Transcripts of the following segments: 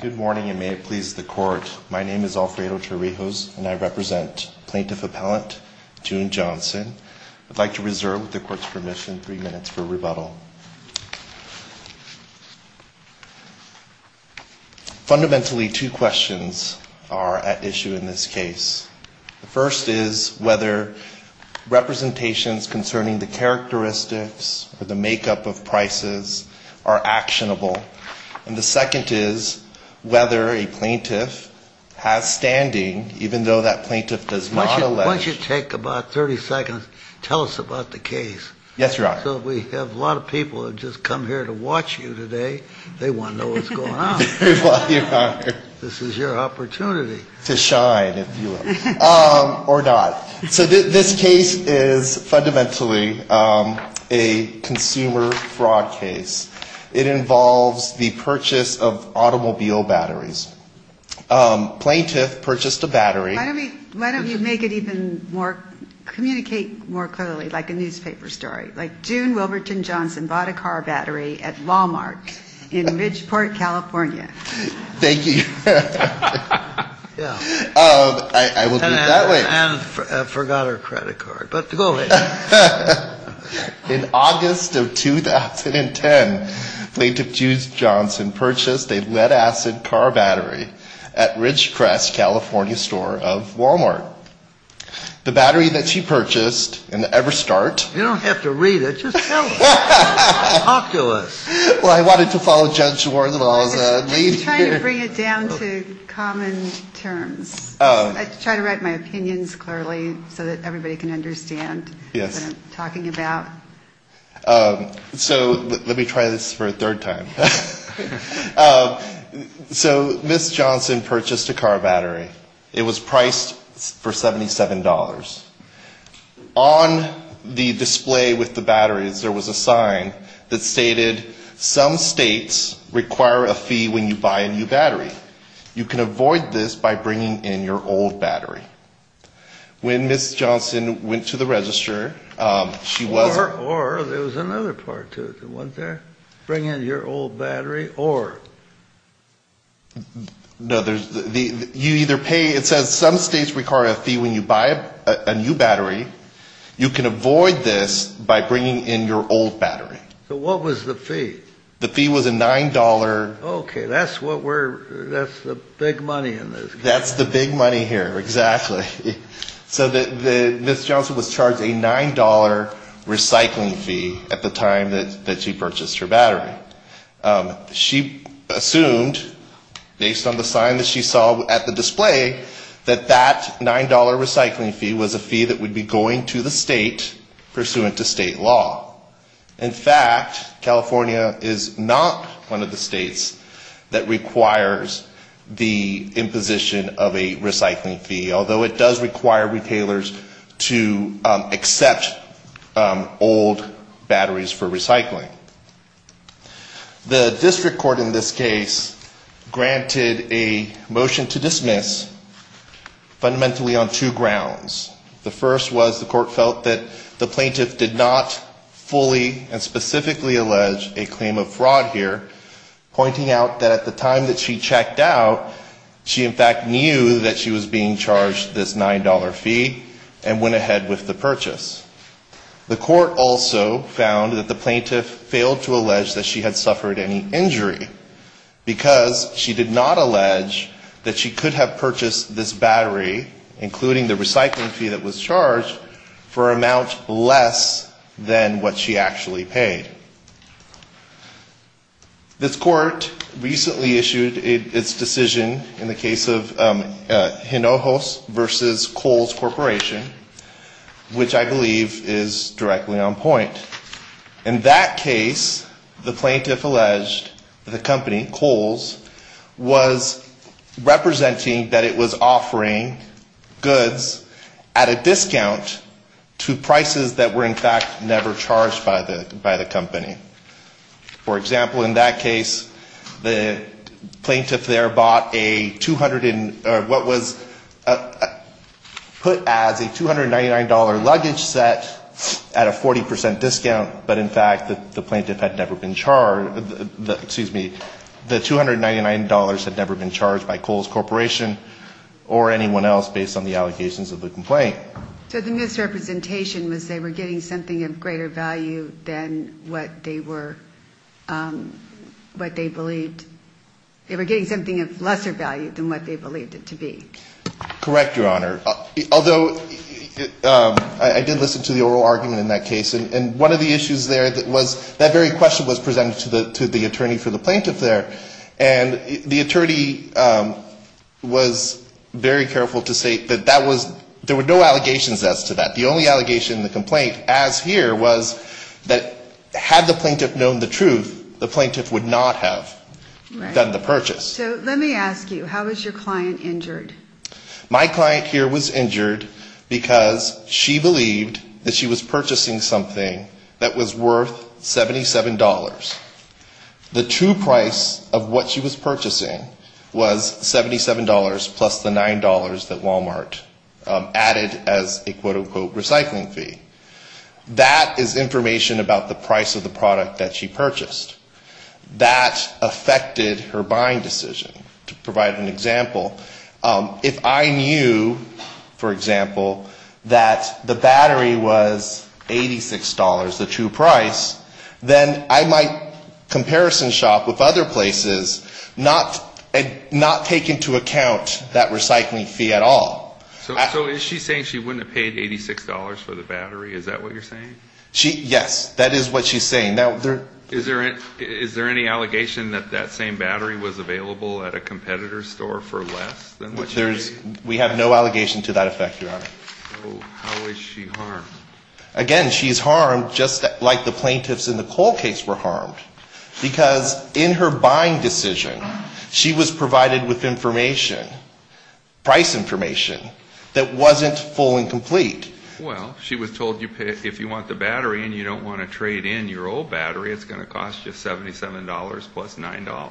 Good morning, and may it please the Court. My name is Alfredo Chirijos, and I represent Plaintiff Appellant June Johnson. I'd like to reserve the Court's permission, three minutes, for rebuttal. Fundamentally, two questions are at issue in this case. The first is whether representations concerning the characteristics or the makeup of prices are actionable, and the second is whether a plaintiff has standing, even though that plaintiff does not elect. Once you take about 30 seconds, tell us about the case. Yes, Your Honor. So we have a lot of people who have just come here to watch you today. They want to know what's going on. Well, Your Honor. This is your opportunity. To shine, if you will. Or not. So this case is fundamentally a consumer fraud case. It involves the purchase of automobile batteries. Plaintiff purchased a battery. Why don't we make it even more, communicate more clearly, like a newspaper story. Like, June Wilberton Johnson bought a car battery at Wal-Mart in Ridgeport, California. Thank you. I will do it that way. And forgot her credit card. But go ahead. In August of 2010, Plaintiff, June Johnson, purchased a lead acid car battery at Ridgecrest, California, store of Wal-Mart. The battery that she purchased in the EverStart... You don't have to read it. Just tell us. Talk to us. Well, I wanted to follow Judge's words. I'm trying to bring it down to common terms. I try to write my opinions clearly so that everybody can understand what I'm talking about. So let me try this for a third time. So Ms. Johnson purchased a car battery. It was priced for $77. On the display with the batteries, there was a sign that stated, some states require a fee when you buy a new battery. You can avoid this by bringing in your old battery. When Ms. Johnson went to the register, she was... Or, there was another part to it, wasn't there? Bring in your old battery or... No, there's... You either pay... It says, some states require a fee when you buy a new battery. You can avoid this by bringing in your old battery. So what was the fee? The fee was a $9... Okay, that's what we're... That's the big money in this case. That's the big money here, exactly. So Ms. Johnson was charged a $9 recycling fee at the time that she purchased her battery. She assumed, based on the sign that she saw at the display, that that $9 recycling fee was a fee that would be going to the state, pursuant to state law. In fact, California is not one of the states that requires the imposition of a recycling fee, although it does require retailers to accept old batteries for recycling. The district court in this case granted a motion to dismiss fundamentally on two grounds. The first was the court felt that the plaintiff did not fully and specifically allege a claim of fraud here, pointing out that at the time that she checked out, she in fact knew that she was being charged this $9 fee and went ahead with the purchase. The court also found that the plaintiff failed to allege that she had suffered any injury, because she did not allege that she could have purchased this battery, including the recycling fee that was charged, for an amount less than what she actually paid. This court recently issued its decision in the case of Hinojos v. Kohl's Corporation, which I believe is directly on point. In that case, the plaintiff alleged that the company, Kohl's, was representing that it was offering a $9 recycling fee to the state. And that they were offering goods at a discount to prices that were in fact never charged by the company. For example, in that case, the plaintiff there bought a 200 or what was put as a $299 luggage set at a 40% discount, but in fact, the plaintiff had never been charged, excuse me, the $299 had never been charged by Kohl's Corporation or anyone else besides the plaintiff. So the misrepresentation was they were getting something of greater value than what they believed, they were getting something of lesser value than what they believed it to be. Correct, Your Honor. Although, I did listen to the oral argument in that case. And one of the issues there was that very question was presented to the attorney for the plaintiff there. There were no allegations as to that. The only allegation in the complaint as here was that had the plaintiff known the truth, the plaintiff would not have done the purchase. So let me ask you, how was your client injured? My client here was injured because she believed that she was purchasing something that was worth $77. The true price of what she was purchasing was $77 plus the $9 that Wal-Mart charged. Added as a quote-unquote recycling fee. That is information about the price of the product that she purchased. That affected her buying decision. To provide an example, if I knew, for example, that the battery was $86, the true price, then I might comparison shop with other places, not take into account that recycling fee at all. So is she saying she wouldn't have paid $86 for the battery, is that what you're saying? Yes, that is what she's saying. Is there any allegation that that same battery was available at a competitor's store for less than the battery? We have no allegation to that effect, Your Honor. So how is she harmed? Again, she's harmed just like the plaintiffs in the Cole case were harmed. Because in her buying decision, she was provided with information, price information. That wasn't full and complete. Well, she was told, if you want the battery and you don't want to trade in your old battery, it's going to cost you $77 plus $9.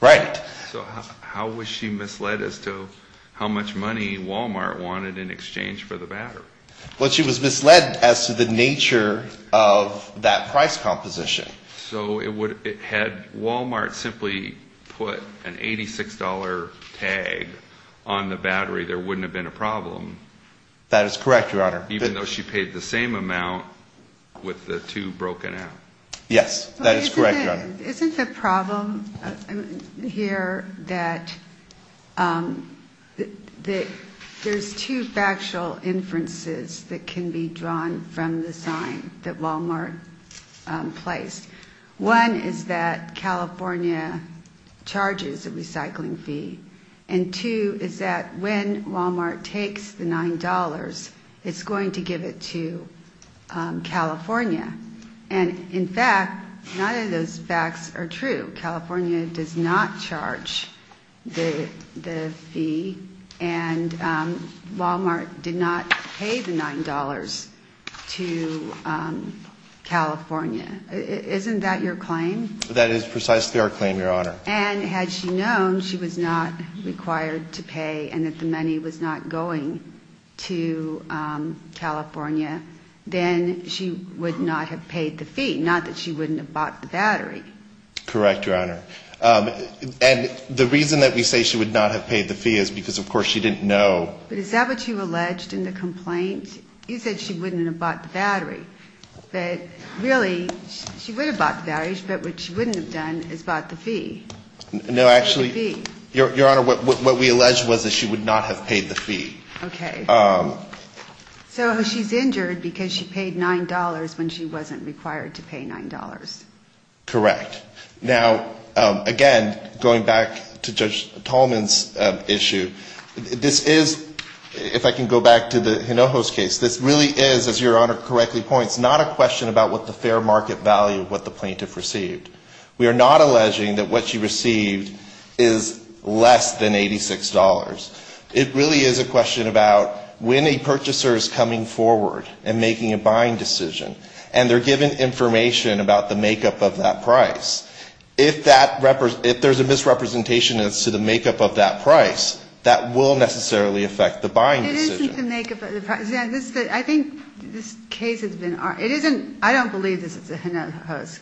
Right. So how was she misled as to how much money Wal-Mart wanted in exchange for the battery? Well, she was misled as to the nature of that price composition. So had Wal-Mart simply put an $86 tag on the battery, there wouldn't have been a problem? That is correct, Your Honor. Even though she paid the same amount with the two broken out? Yes, that is correct, Your Honor. Isn't the problem here that there's two factual inferences that can be drawn from the sign that Wal-Mart placed? One is that California charges a recycling fee. And two is that when Wal-Mart takes the $9, it's going to give it to California. And in fact, none of those facts are true. California does not charge the fee, and Wal-Mart did not pay the $9 to California. Isn't that your claim? That is precisely our claim, Your Honor. And had she known she was not required to pay and that the money was not going to California, then she would not have paid the fee, not that she wouldn't have bought the battery. Correct, Your Honor. And the reason that we say she would not have paid the fee is because, of course, she didn't know. But is that what you alleged in the complaint? No, actually, Your Honor, what we allege was that she would not have paid the fee. Okay. So she's injured because she paid $9 when she wasn't required to pay $9. Correct. Now, again, going back to Judge Tolman's issue, this is, if I can go back to the Hinojos case, this really is, as Your Honor correctly pointed out, it's not a question about what the fair market value of what the plaintiff received. We are not alleging that what she received is less than $86. It really is a question about when a purchaser is coming forward and making a buying decision, and they're given information about the makeup of that price. If there's a misrepresentation as to the makeup of that price, that will necessarily affect the buying decision. It isn't the makeup of the price. I think this case has been, it isn't, I don't believe this is a Hinojos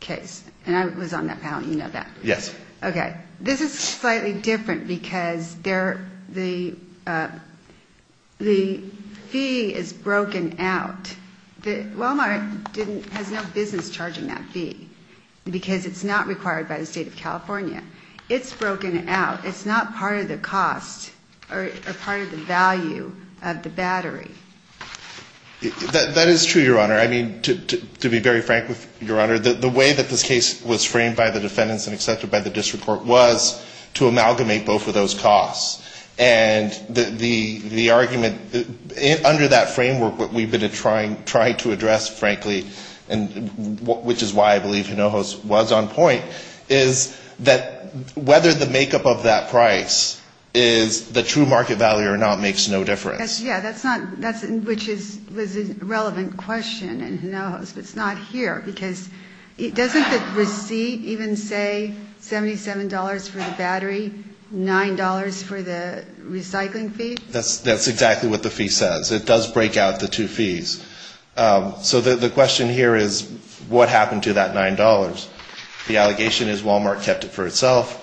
case, and I was on that panel, you know that. Yes. Okay. This is slightly different because the fee is broken out. Walmart has no business charging that fee because it's not required by the State of California. It's broken out. It's not part of the cost or part of the value of the battery. That is true, Your Honor. I mean, to be very frank with Your Honor, the way that this case was framed by the defendants and accepted by the district court was to amalgamate both of those costs. And the argument, under that framework, what we've been trying to address, frankly, which is why I believe Hinojos was on point, is that whether the makeup of that price is the true market value or not makes no difference. Yeah, that's not, which is a relevant question in Hinojos, but it's not here, because doesn't the receipt even say $77 for the battery, $9 for the recycling fee? That's exactly what the fee says. It does break out the two fees. So the question here is what happened to that $9? The allegation is Walmart kept it for itself.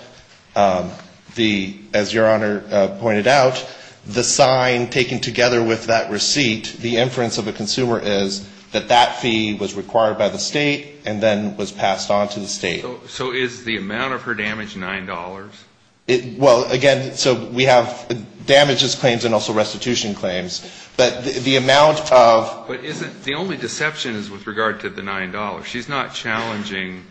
The, as Your Honor pointed out, the sign taken together with that receipt, the inference of the consumer is that that fee was required by the state and then was passed on to the state. So is the amount of her damage $9? Well, again, so we have damages claims and also restitution claims. But the amount of the only deception is with regard to the $9. She's not challenging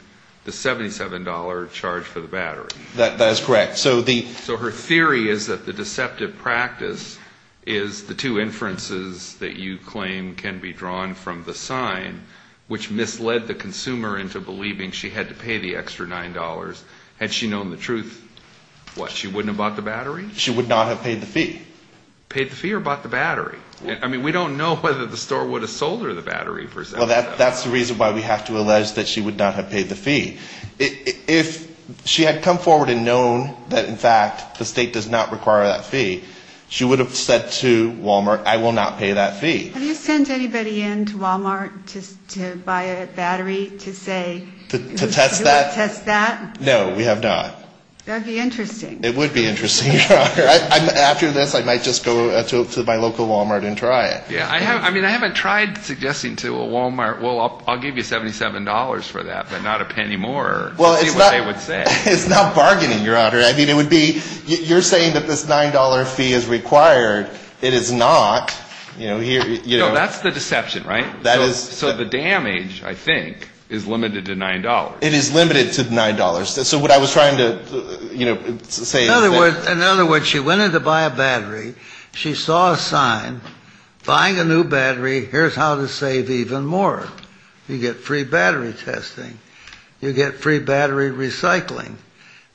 the $77 charge for the battery. That is correct. So her theory is that the deceptive practice is the two inferences that you claim can be drawn from the sign, which misled the consumer into believing she had to pay the extra $9. Had she known the truth, what, she wouldn't have bought the battery? She would not have paid the fee. Paid the fee or bought the battery? I mean, we don't know whether the store would have sold her the battery for $7. Well, that's the reason why we have to allege that she would not have paid the fee. If she had come forward and known that in fact the state does not require that fee, she would have said to Walmart, I will not pay that fee. Have you sent anybody in to Walmart to buy a battery to say, do you want to test that? No, we have not. That would be interesting. After this, I might just go to my local Walmart and try it. I haven't tried suggesting to a Walmart, well, I'll give you $77 for that, but not a penny more. It's not bargaining, Your Honor. You're saying that this $9 fee is required. It is not. No, that's the deception, right? So the damage, I think, is limited to $9. It is limited to $9. So what I was trying to say is that... In other words, she went in to buy a battery. She saw a sign, buying a new battery, here's how to save even more. You get free battery testing. You get free battery recycling.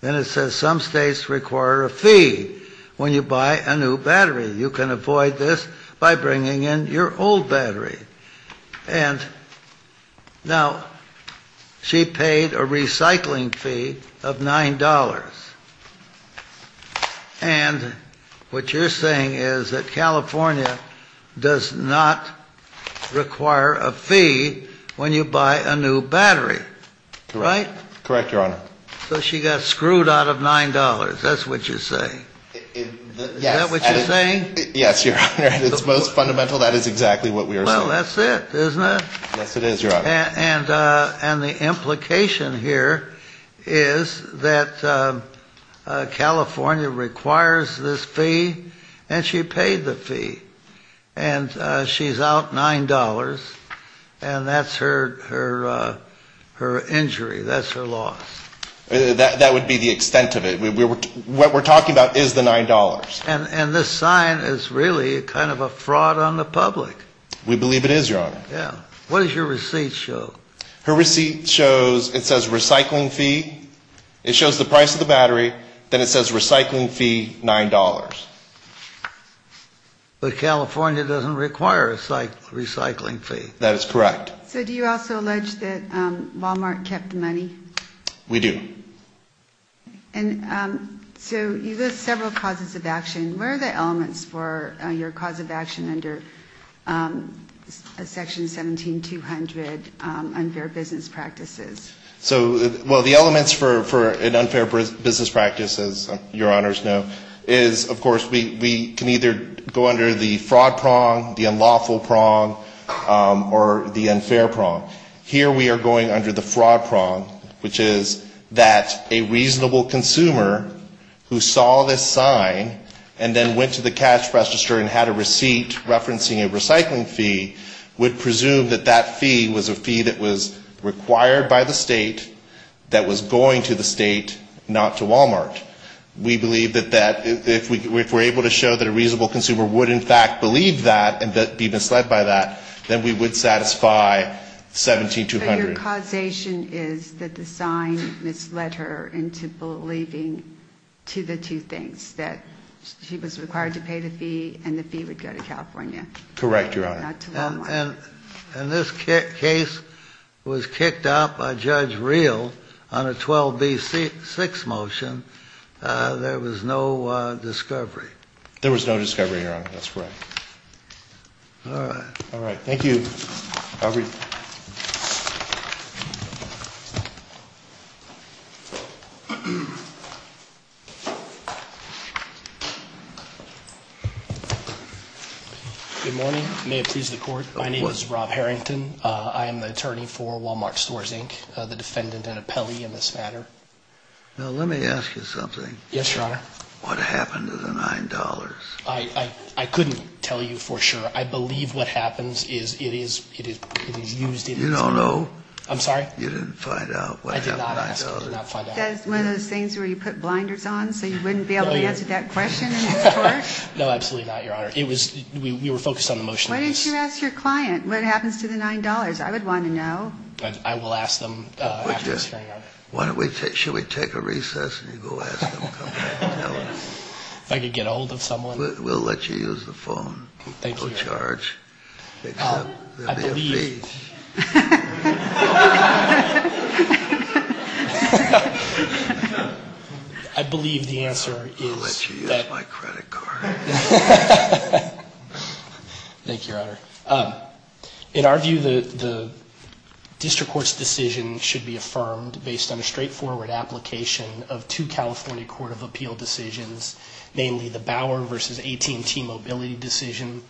Then it says some states require a fee when you buy a new battery. You can avoid this by bringing in your old battery. Now, she paid a recycling fee of $9. And what you're saying is that California does not require a fee when you buy a new battery, right? Correct, Your Honor. So she got screwed out of $9, that's what you're saying. Is that what you're saying? Yes, Your Honor, it's most fundamental, that is exactly what we are saying. Well, that's it, isn't it? Yes, it is, Your Honor. And the implication here is that California requires this fee, and she paid the fee. And she's out $9, and that's her injury, that's her loss. That would be the extent of it. What we're talking about is the $9. And this sign is really kind of a fraud on the public. We believe it is, Your Honor. What does your receipt show? Her receipt shows, it says recycling fee, it shows the price of the battery, then it says recycling fee, $9. But California doesn't require a recycling fee. That is correct. So do you also allege that Walmart kept the money? We do. And so you list several causes of action. What are the elements for your cause of action under Section 17200, unfair business practices? So, well, the elements for an unfair business practice, as Your Honors know, is, of course, we can either go under the fraud prong, the unlawful prong, or the unfair prong. Here we are going under the fraud prong, which is that a reasonable consumer who saw this sign and then went to the cash register and had a receipt referencing a recycling fee would presume that that fee was a fee that was required by the state, that was going to the state, not to Walmart. We believe that if we're able to show that a reasonable consumer would in fact believe that and be misled by that, then we would satisfy Section 17200. But your causation is that the sign misled her into believing to the two things, that she was required to pay the fee and the fee would go to California, not to Walmart. Correct, Your Honor. And this case was kicked out by Judge Reel on a 12B6 motion. There was no discovery. There was no discovery, Your Honor. That's correct. All right. All right. Thank you. Good morning. May it please the Court. My name is Rob Harrington. I am the attorney for Walmart Stores, Inc., the defendant and appellee in this matter. Yes, Your Honor. What happened to the $9? I couldn't tell you for sure. I believe what happens is it is used in its... You don't know? I'm sorry? You didn't find out what happened to the $9? I did not ask. I did not find out. One of those things where you put blinders on so you wouldn't be able to answer that question in court? No, absolutely not, Your Honor. We were focused on the motion. Why didn't you ask your client what happens to the $9? I would want to know. I will ask them after this hearing, Your Honor. Why don't we take – should we take a recess and you go ask them and come back and tell us? If I could get a hold of someone? We'll let you use the phone. Thank you, Your Honor. You can go charge, except there will be a fee. I believe the answer is... I'll let you use my credit card. Thank you, Your Honor. In our view, the district court's decision should be affirmed based on a straightforward application of two California Court of Appeal decisions, namely the Bauer v. AT&T mobility decision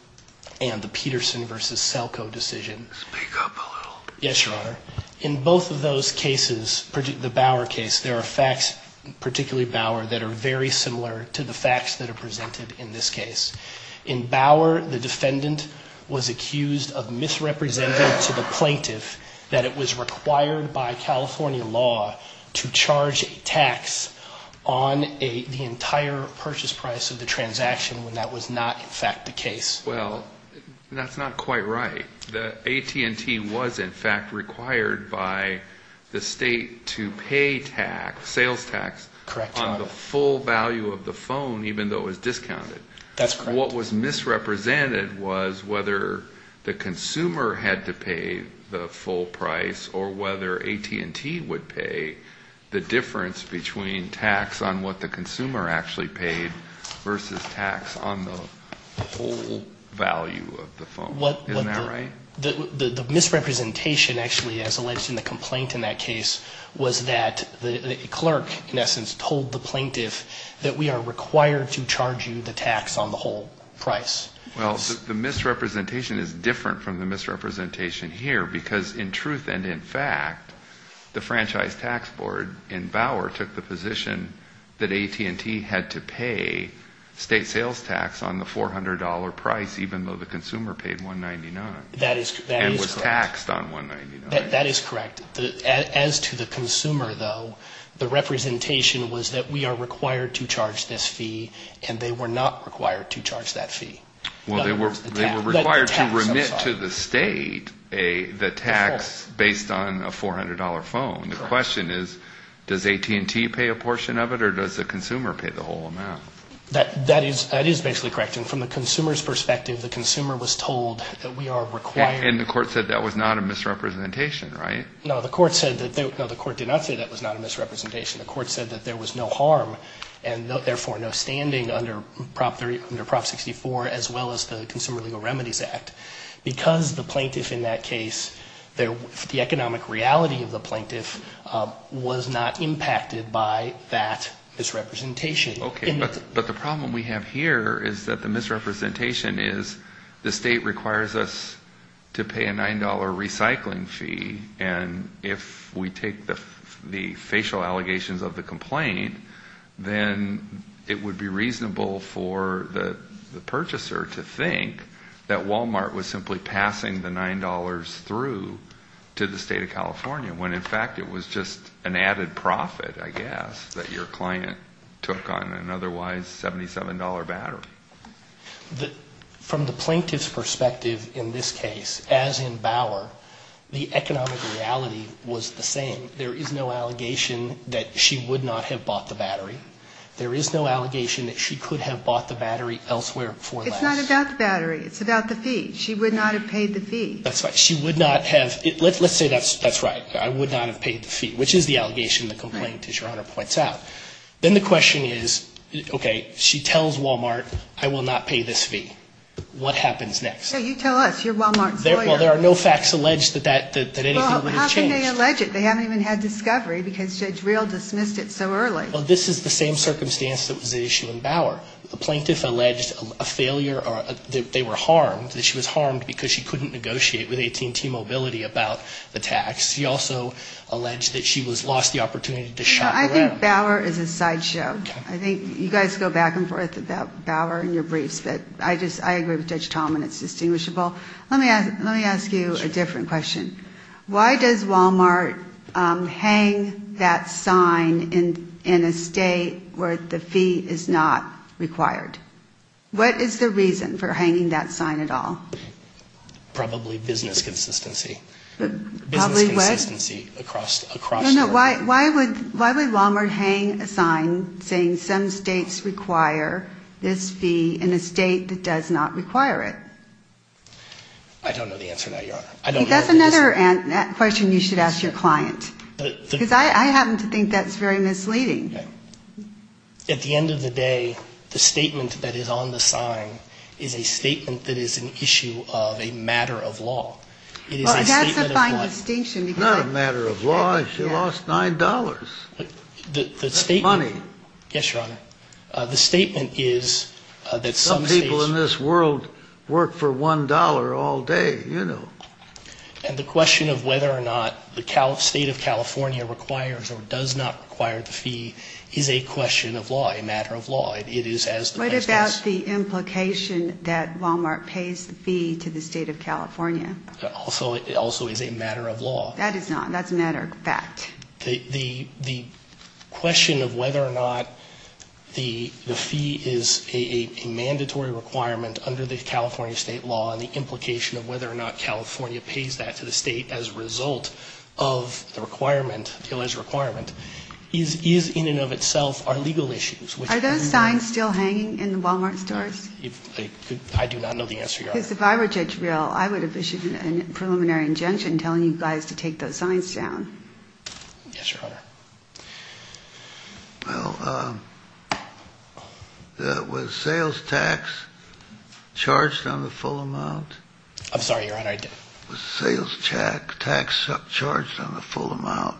and the Peterson v. Selco decision. Speak up a little. Yes, Your Honor. In both of those cases, the Bauer case, there are facts, particularly Bauer, that are very similar to the facts that are presented in this case. In Bauer, the defendant was able to use a credit card when he was accused of misrepresenting to the plaintiff that it was required by California law to charge a tax on the entire purchase price of the transaction when that was not, in fact, the case. Well, that's not quite right. The AT&T was, in fact, required by the state to pay sales tax on the full value of the phone, even though it was discounted. That's correct. What was misrepresented was whether the consumer had to pay the full price or whether AT&T would pay the difference between tax on what the consumer actually paid versus tax on the whole value of the phone. Isn't that right? The misrepresentation, actually, as alleged in the complaint in that case was that the clerk, in essence, told the plaintiff that we are required to charge you the tax on the whole price. Well, the misrepresentation is different from the misrepresentation here because, in truth and in fact, the Franchise Tax Board in Bauer took the position that AT&T had to pay state sales tax on the $400 price even though the consumer paid $199 and was taxed on $199. That is correct. As to the consumer, though, the representation was that they were not required to charge that fee. They were required to remit to the state the tax based on a $400 phone. The question is, does AT&T pay a portion of it or does the consumer pay the whole amount? That is basically correct. From the consumer's perspective, the consumer was told that we are required And the court said that was not a misrepresentation, right? No, the court did not say that was not a misrepresentation. The court said that there was no harm and therefore no standing under Prop. 64 as well as the Consumer Legal Remedies Act because the economic reality of the plaintiff was not impacted by that misrepresentation. But the problem we have here is that the misrepresentation is the state requires us to pay a $9 recycling fee and if we take the facial allegations of the complaint, then it would be reasonable for the purchaser to think that Walmart was simply passing the $9 through to the state of California when in fact it was just an added profit, I guess that your client took on an otherwise $77 battery. From the plaintiff's perspective in this case, as in Bauer the economic reality was the same. There is no allegation that she would not have bought the battery. There is no allegation that she could have bought the battery elsewhere before that. It's not about the battery, it's about the fee. She would not have paid the fee. Let's say that's right, I would not have paid the fee which is the allegation of the complaint as your Honor points out. Then the question is, okay, she tells Walmart I will not pay this fee. What happens next? You tell us, you're Walmart's lawyer. Well, there are no facts alleged that anything would have changed. Well, how can they allege it? They haven't even had discovery because Judge Reel dismissed it so early. Well, this is the same circumstance that was at issue in Bauer. The plaintiff alleged a failure or that they were harmed that she was harmed because she couldn't negotiate with AT&T Mobility about the tax. She also alleged that she lost the opportunity to shop around. Bauer is a sideshow. You guys go back and forth about Bauer in your briefs but I agree with Judge Tallman, it's distinguishable. Let me ask you a different question. Why does Walmart hang that sign in a state where the fee is not required? What is the reason for hanging that sign at all? Probably business consistency. Probably what? Why does Walmart hang a sign saying some states require this fee in a state that does not require it? I don't know the answer now, Your Honor. That's another question you should ask your client because I happen to think that's very misleading. At the end of the day, the statement that is on the sign is a statement that is an issue of a matter of law. It is a statement of law. Well, it has to find distinction. It's not a matter of law. She lost $9. That's money. Yes, Your Honor. Some people in this world work for $1 all day, you know. And the question of whether or not the state of California requires or does not require the fee is a question of law, a matter of law. What about the implication that Walmart pays the fee to the state of California? It also is a matter of law. That is not. That's a matter of fact. The question of whether or not the fee is a mandatory requirement under the California state law and the implication of whether or not California pays that to the state as a result of the requirement, Taylor's requirement, is in and of itself are legal issues. Are those signs still hanging in the Walmart stores? I do not know the answer, Your Honor. Because if I were Judge Real, I would have issued a preliminary injunction telling you guys to take those signs down. Yes, Your Honor. Well, was sales tax charged on the full amount? I'm sorry, Your Honor. Was sales tax charged on the full amount?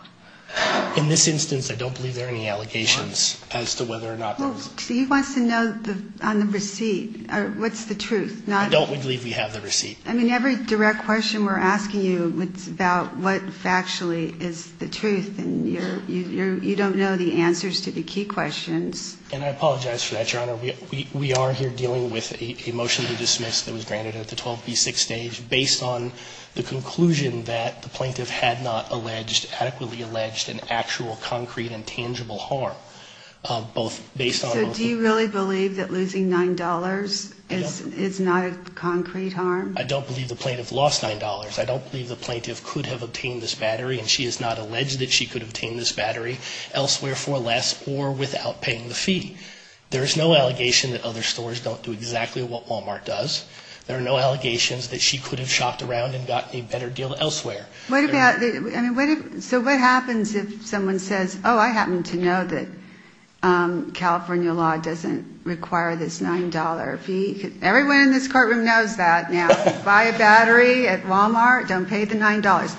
In this instance, I don't believe there are any allegations as to whether or not there was. Well, he wants to know on the receipt, what's the truth. I don't believe we have the receipt. I mean, every direct question we're asking you, it's about what factually is the truth, and you don't know the answers to the key questions. And I apologize for that, Your Honor. We are here dealing with a motion to dismiss that was granted at the 12B6 stage based on the conclusion that the plaintiff had not alleged, adequately alleged an actual, concrete, and tangible harm. So do you really believe that losing $9 is not a concrete harm? I don't believe the plaintiff lost $9. I don't believe the plaintiff could have obtained this battery, and she has not alleged that she could have obtained this battery elsewhere for less or without paying the fee. There is no allegation that other stores don't do exactly what Walmart does. There are no allegations that she could have shopped around and gotten a better deal elsewhere. So what happens if someone says, oh, I happen to know that California law doesn't require this $9 fee? Everyone in this courtroom knows that now. Buy a battery at Walmart, don't pay the $9.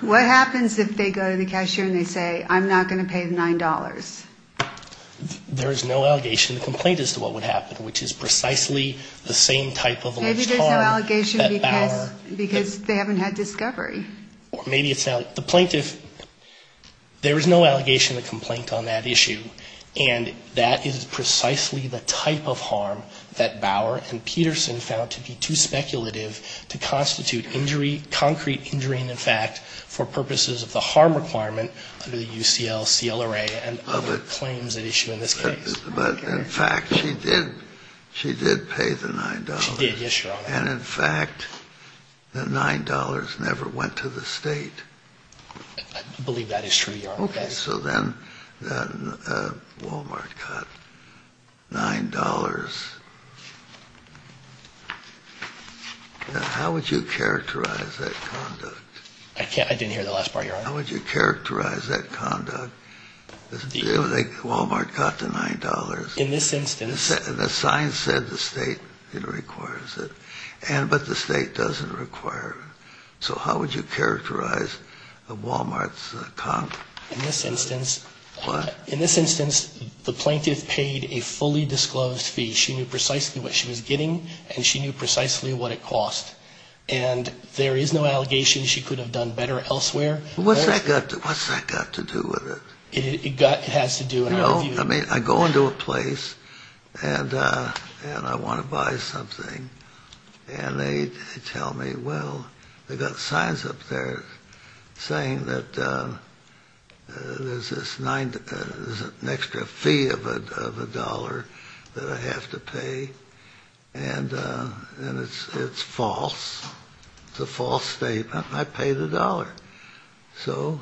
What happens if they go to the cashier and they say, I'm not going to pay the $9? There is no allegation of complaint as to what would happen, which is precisely the same type of alleged harm. Maybe there's no allegation because they haven't had discovery. Or maybe it's not. The plaintiff, there is no allegation of complaint on that issue, and that is precisely the type of harm that Bower and Peterson found to be too speculative to constitute injury, concrete injury in effect, for purposes of the harm requirement under the UCL, CLRA, and other claims at issue in this case. But in fact, she did, she did pay the $9. She did, yes, Your Honor. And in fact, the $9 never went to the state. I believe that is true, Your Honor. Okay, so then Walmart got $9. How would you characterize that conduct? I didn't hear the last part, Your Honor. How would you characterize that conduct? Walmart got the $9. In this instance. And the sign said the state requires it. But the state doesn't require it. So how would you characterize Walmart's conduct? In this instance. What? In this instance, the plaintiff paid a fully disclosed fee. She knew precisely what she was getting, and she knew precisely what it cost. And there is no allegation she could have done better elsewhere. What's that got to do with it? It has to do with it. I mean, I go into a place and I want to buy something. And they tell me, well, they've got signs up there saying that there's an extra fee of a dollar that I have to pay. And it's false. It's a false statement. I pay the dollar. So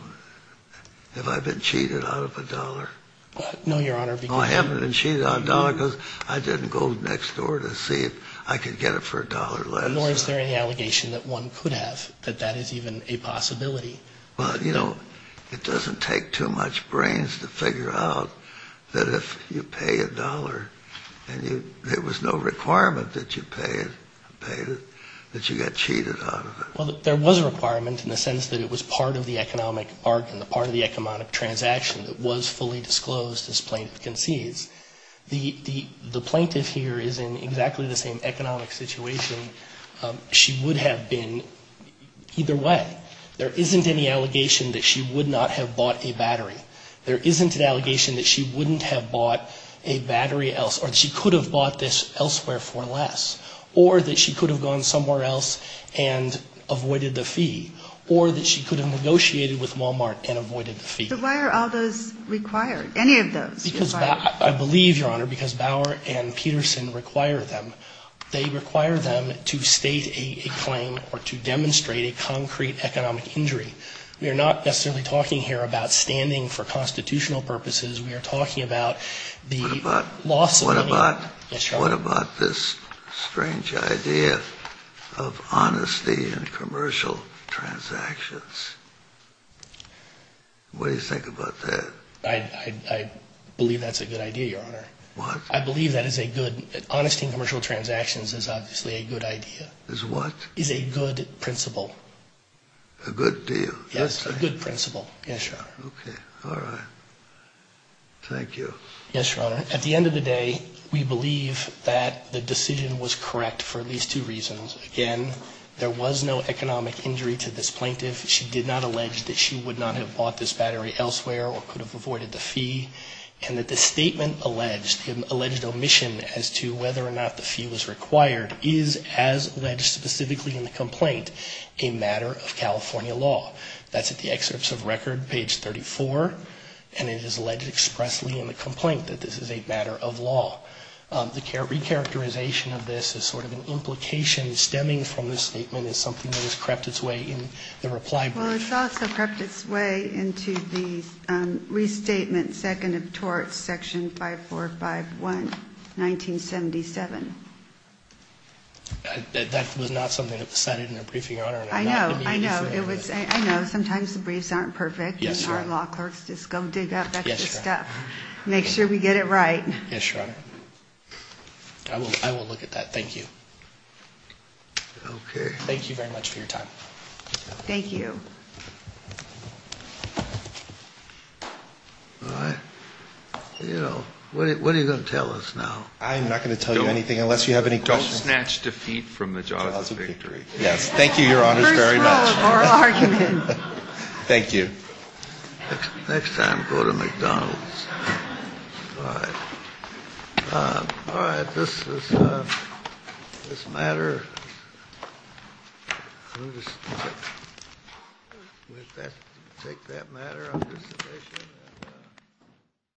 have I been cheated out of a dollar? No, Your Honor. No, I haven't been cheated out of a dollar because I didn't go next door to see if I could get it for a dollar less. Nor is there any allegation that one could have, that that is even a possibility. Well, you know, it doesn't take too much brains to figure out that if you pay a dollar and there was no requirement that you paid it, that you got cheated out of it. Well, there was a requirement in the sense that it was part of the economic bargain, part of the economic transaction that was fully disclosed as plaintiff concedes. The plaintiff here is in exactly the same economic situation she would have been either way. There isn't any allegation that she would not have bought a battery. There isn't an allegation that she wouldn't have bought a battery else, or she could have bought this elsewhere for less. Or that she could have gone somewhere else and avoided the fee. Or that she could have negotiated with Walmart and avoided the fee. But why are all those required? Any of those required? Because I believe, Your Honor, because Bauer and Peterson require them. They require them to state a claim or to demonstrate a concrete economic injury. We are not necessarily talking here about standing for constitutional purposes. What about? Yes, Your Honor. What about this strange idea of honesty in commercial transactions? What do you think about that? I believe that's a good idea, Your Honor. What? I believe that is a good, honesty in commercial transactions is obviously a good idea. Is what? Is a good principle. A good deal? Yes, a good principle. Yes, Your Honor. Okay. All right. Thank you. Yes, Your Honor. At the end of the day, we believe that the decision was correct for at least two reasons. Again, there was no economic injury to this plaintiff. She did not allege that she would not have bought this battery elsewhere or could have avoided the fee. And that the statement alleged, alleged omission as to whether or not the fee was required, is as alleged specifically in the complaint, a matter of California law. That's at the excerpts of record, page 34. And it is alleged expressly in the complaint that this is a matter of law. The recharacterization of this is sort of an implication stemming from the statement is something that has crept its way in the reply brief. Well, it's also crept its way into the restatement second of torts, section 5451, 1977. That was not something that was cited in the briefing, Your Honor. I know. I know. I know. Sometimes the briefs aren't perfect. Yes, Your Honor. And our law clerks just go dig up extra stuff. Yes, Your Honor. Make sure we get it right. Yes, Your Honor. I will look at that. Thank you. Okay. Thank you very much for your time. Thank you. All right. What are you going to tell us now? I am not going to tell you anything unless you have any questions. Don't snatch defeat from the jaws of victory. Yes. Thank you, Your Honors, very much. First rule of oral argument. Thank you. Next time, go to McDonald's. All right. All right. This matter, we'll just take that matter under submission.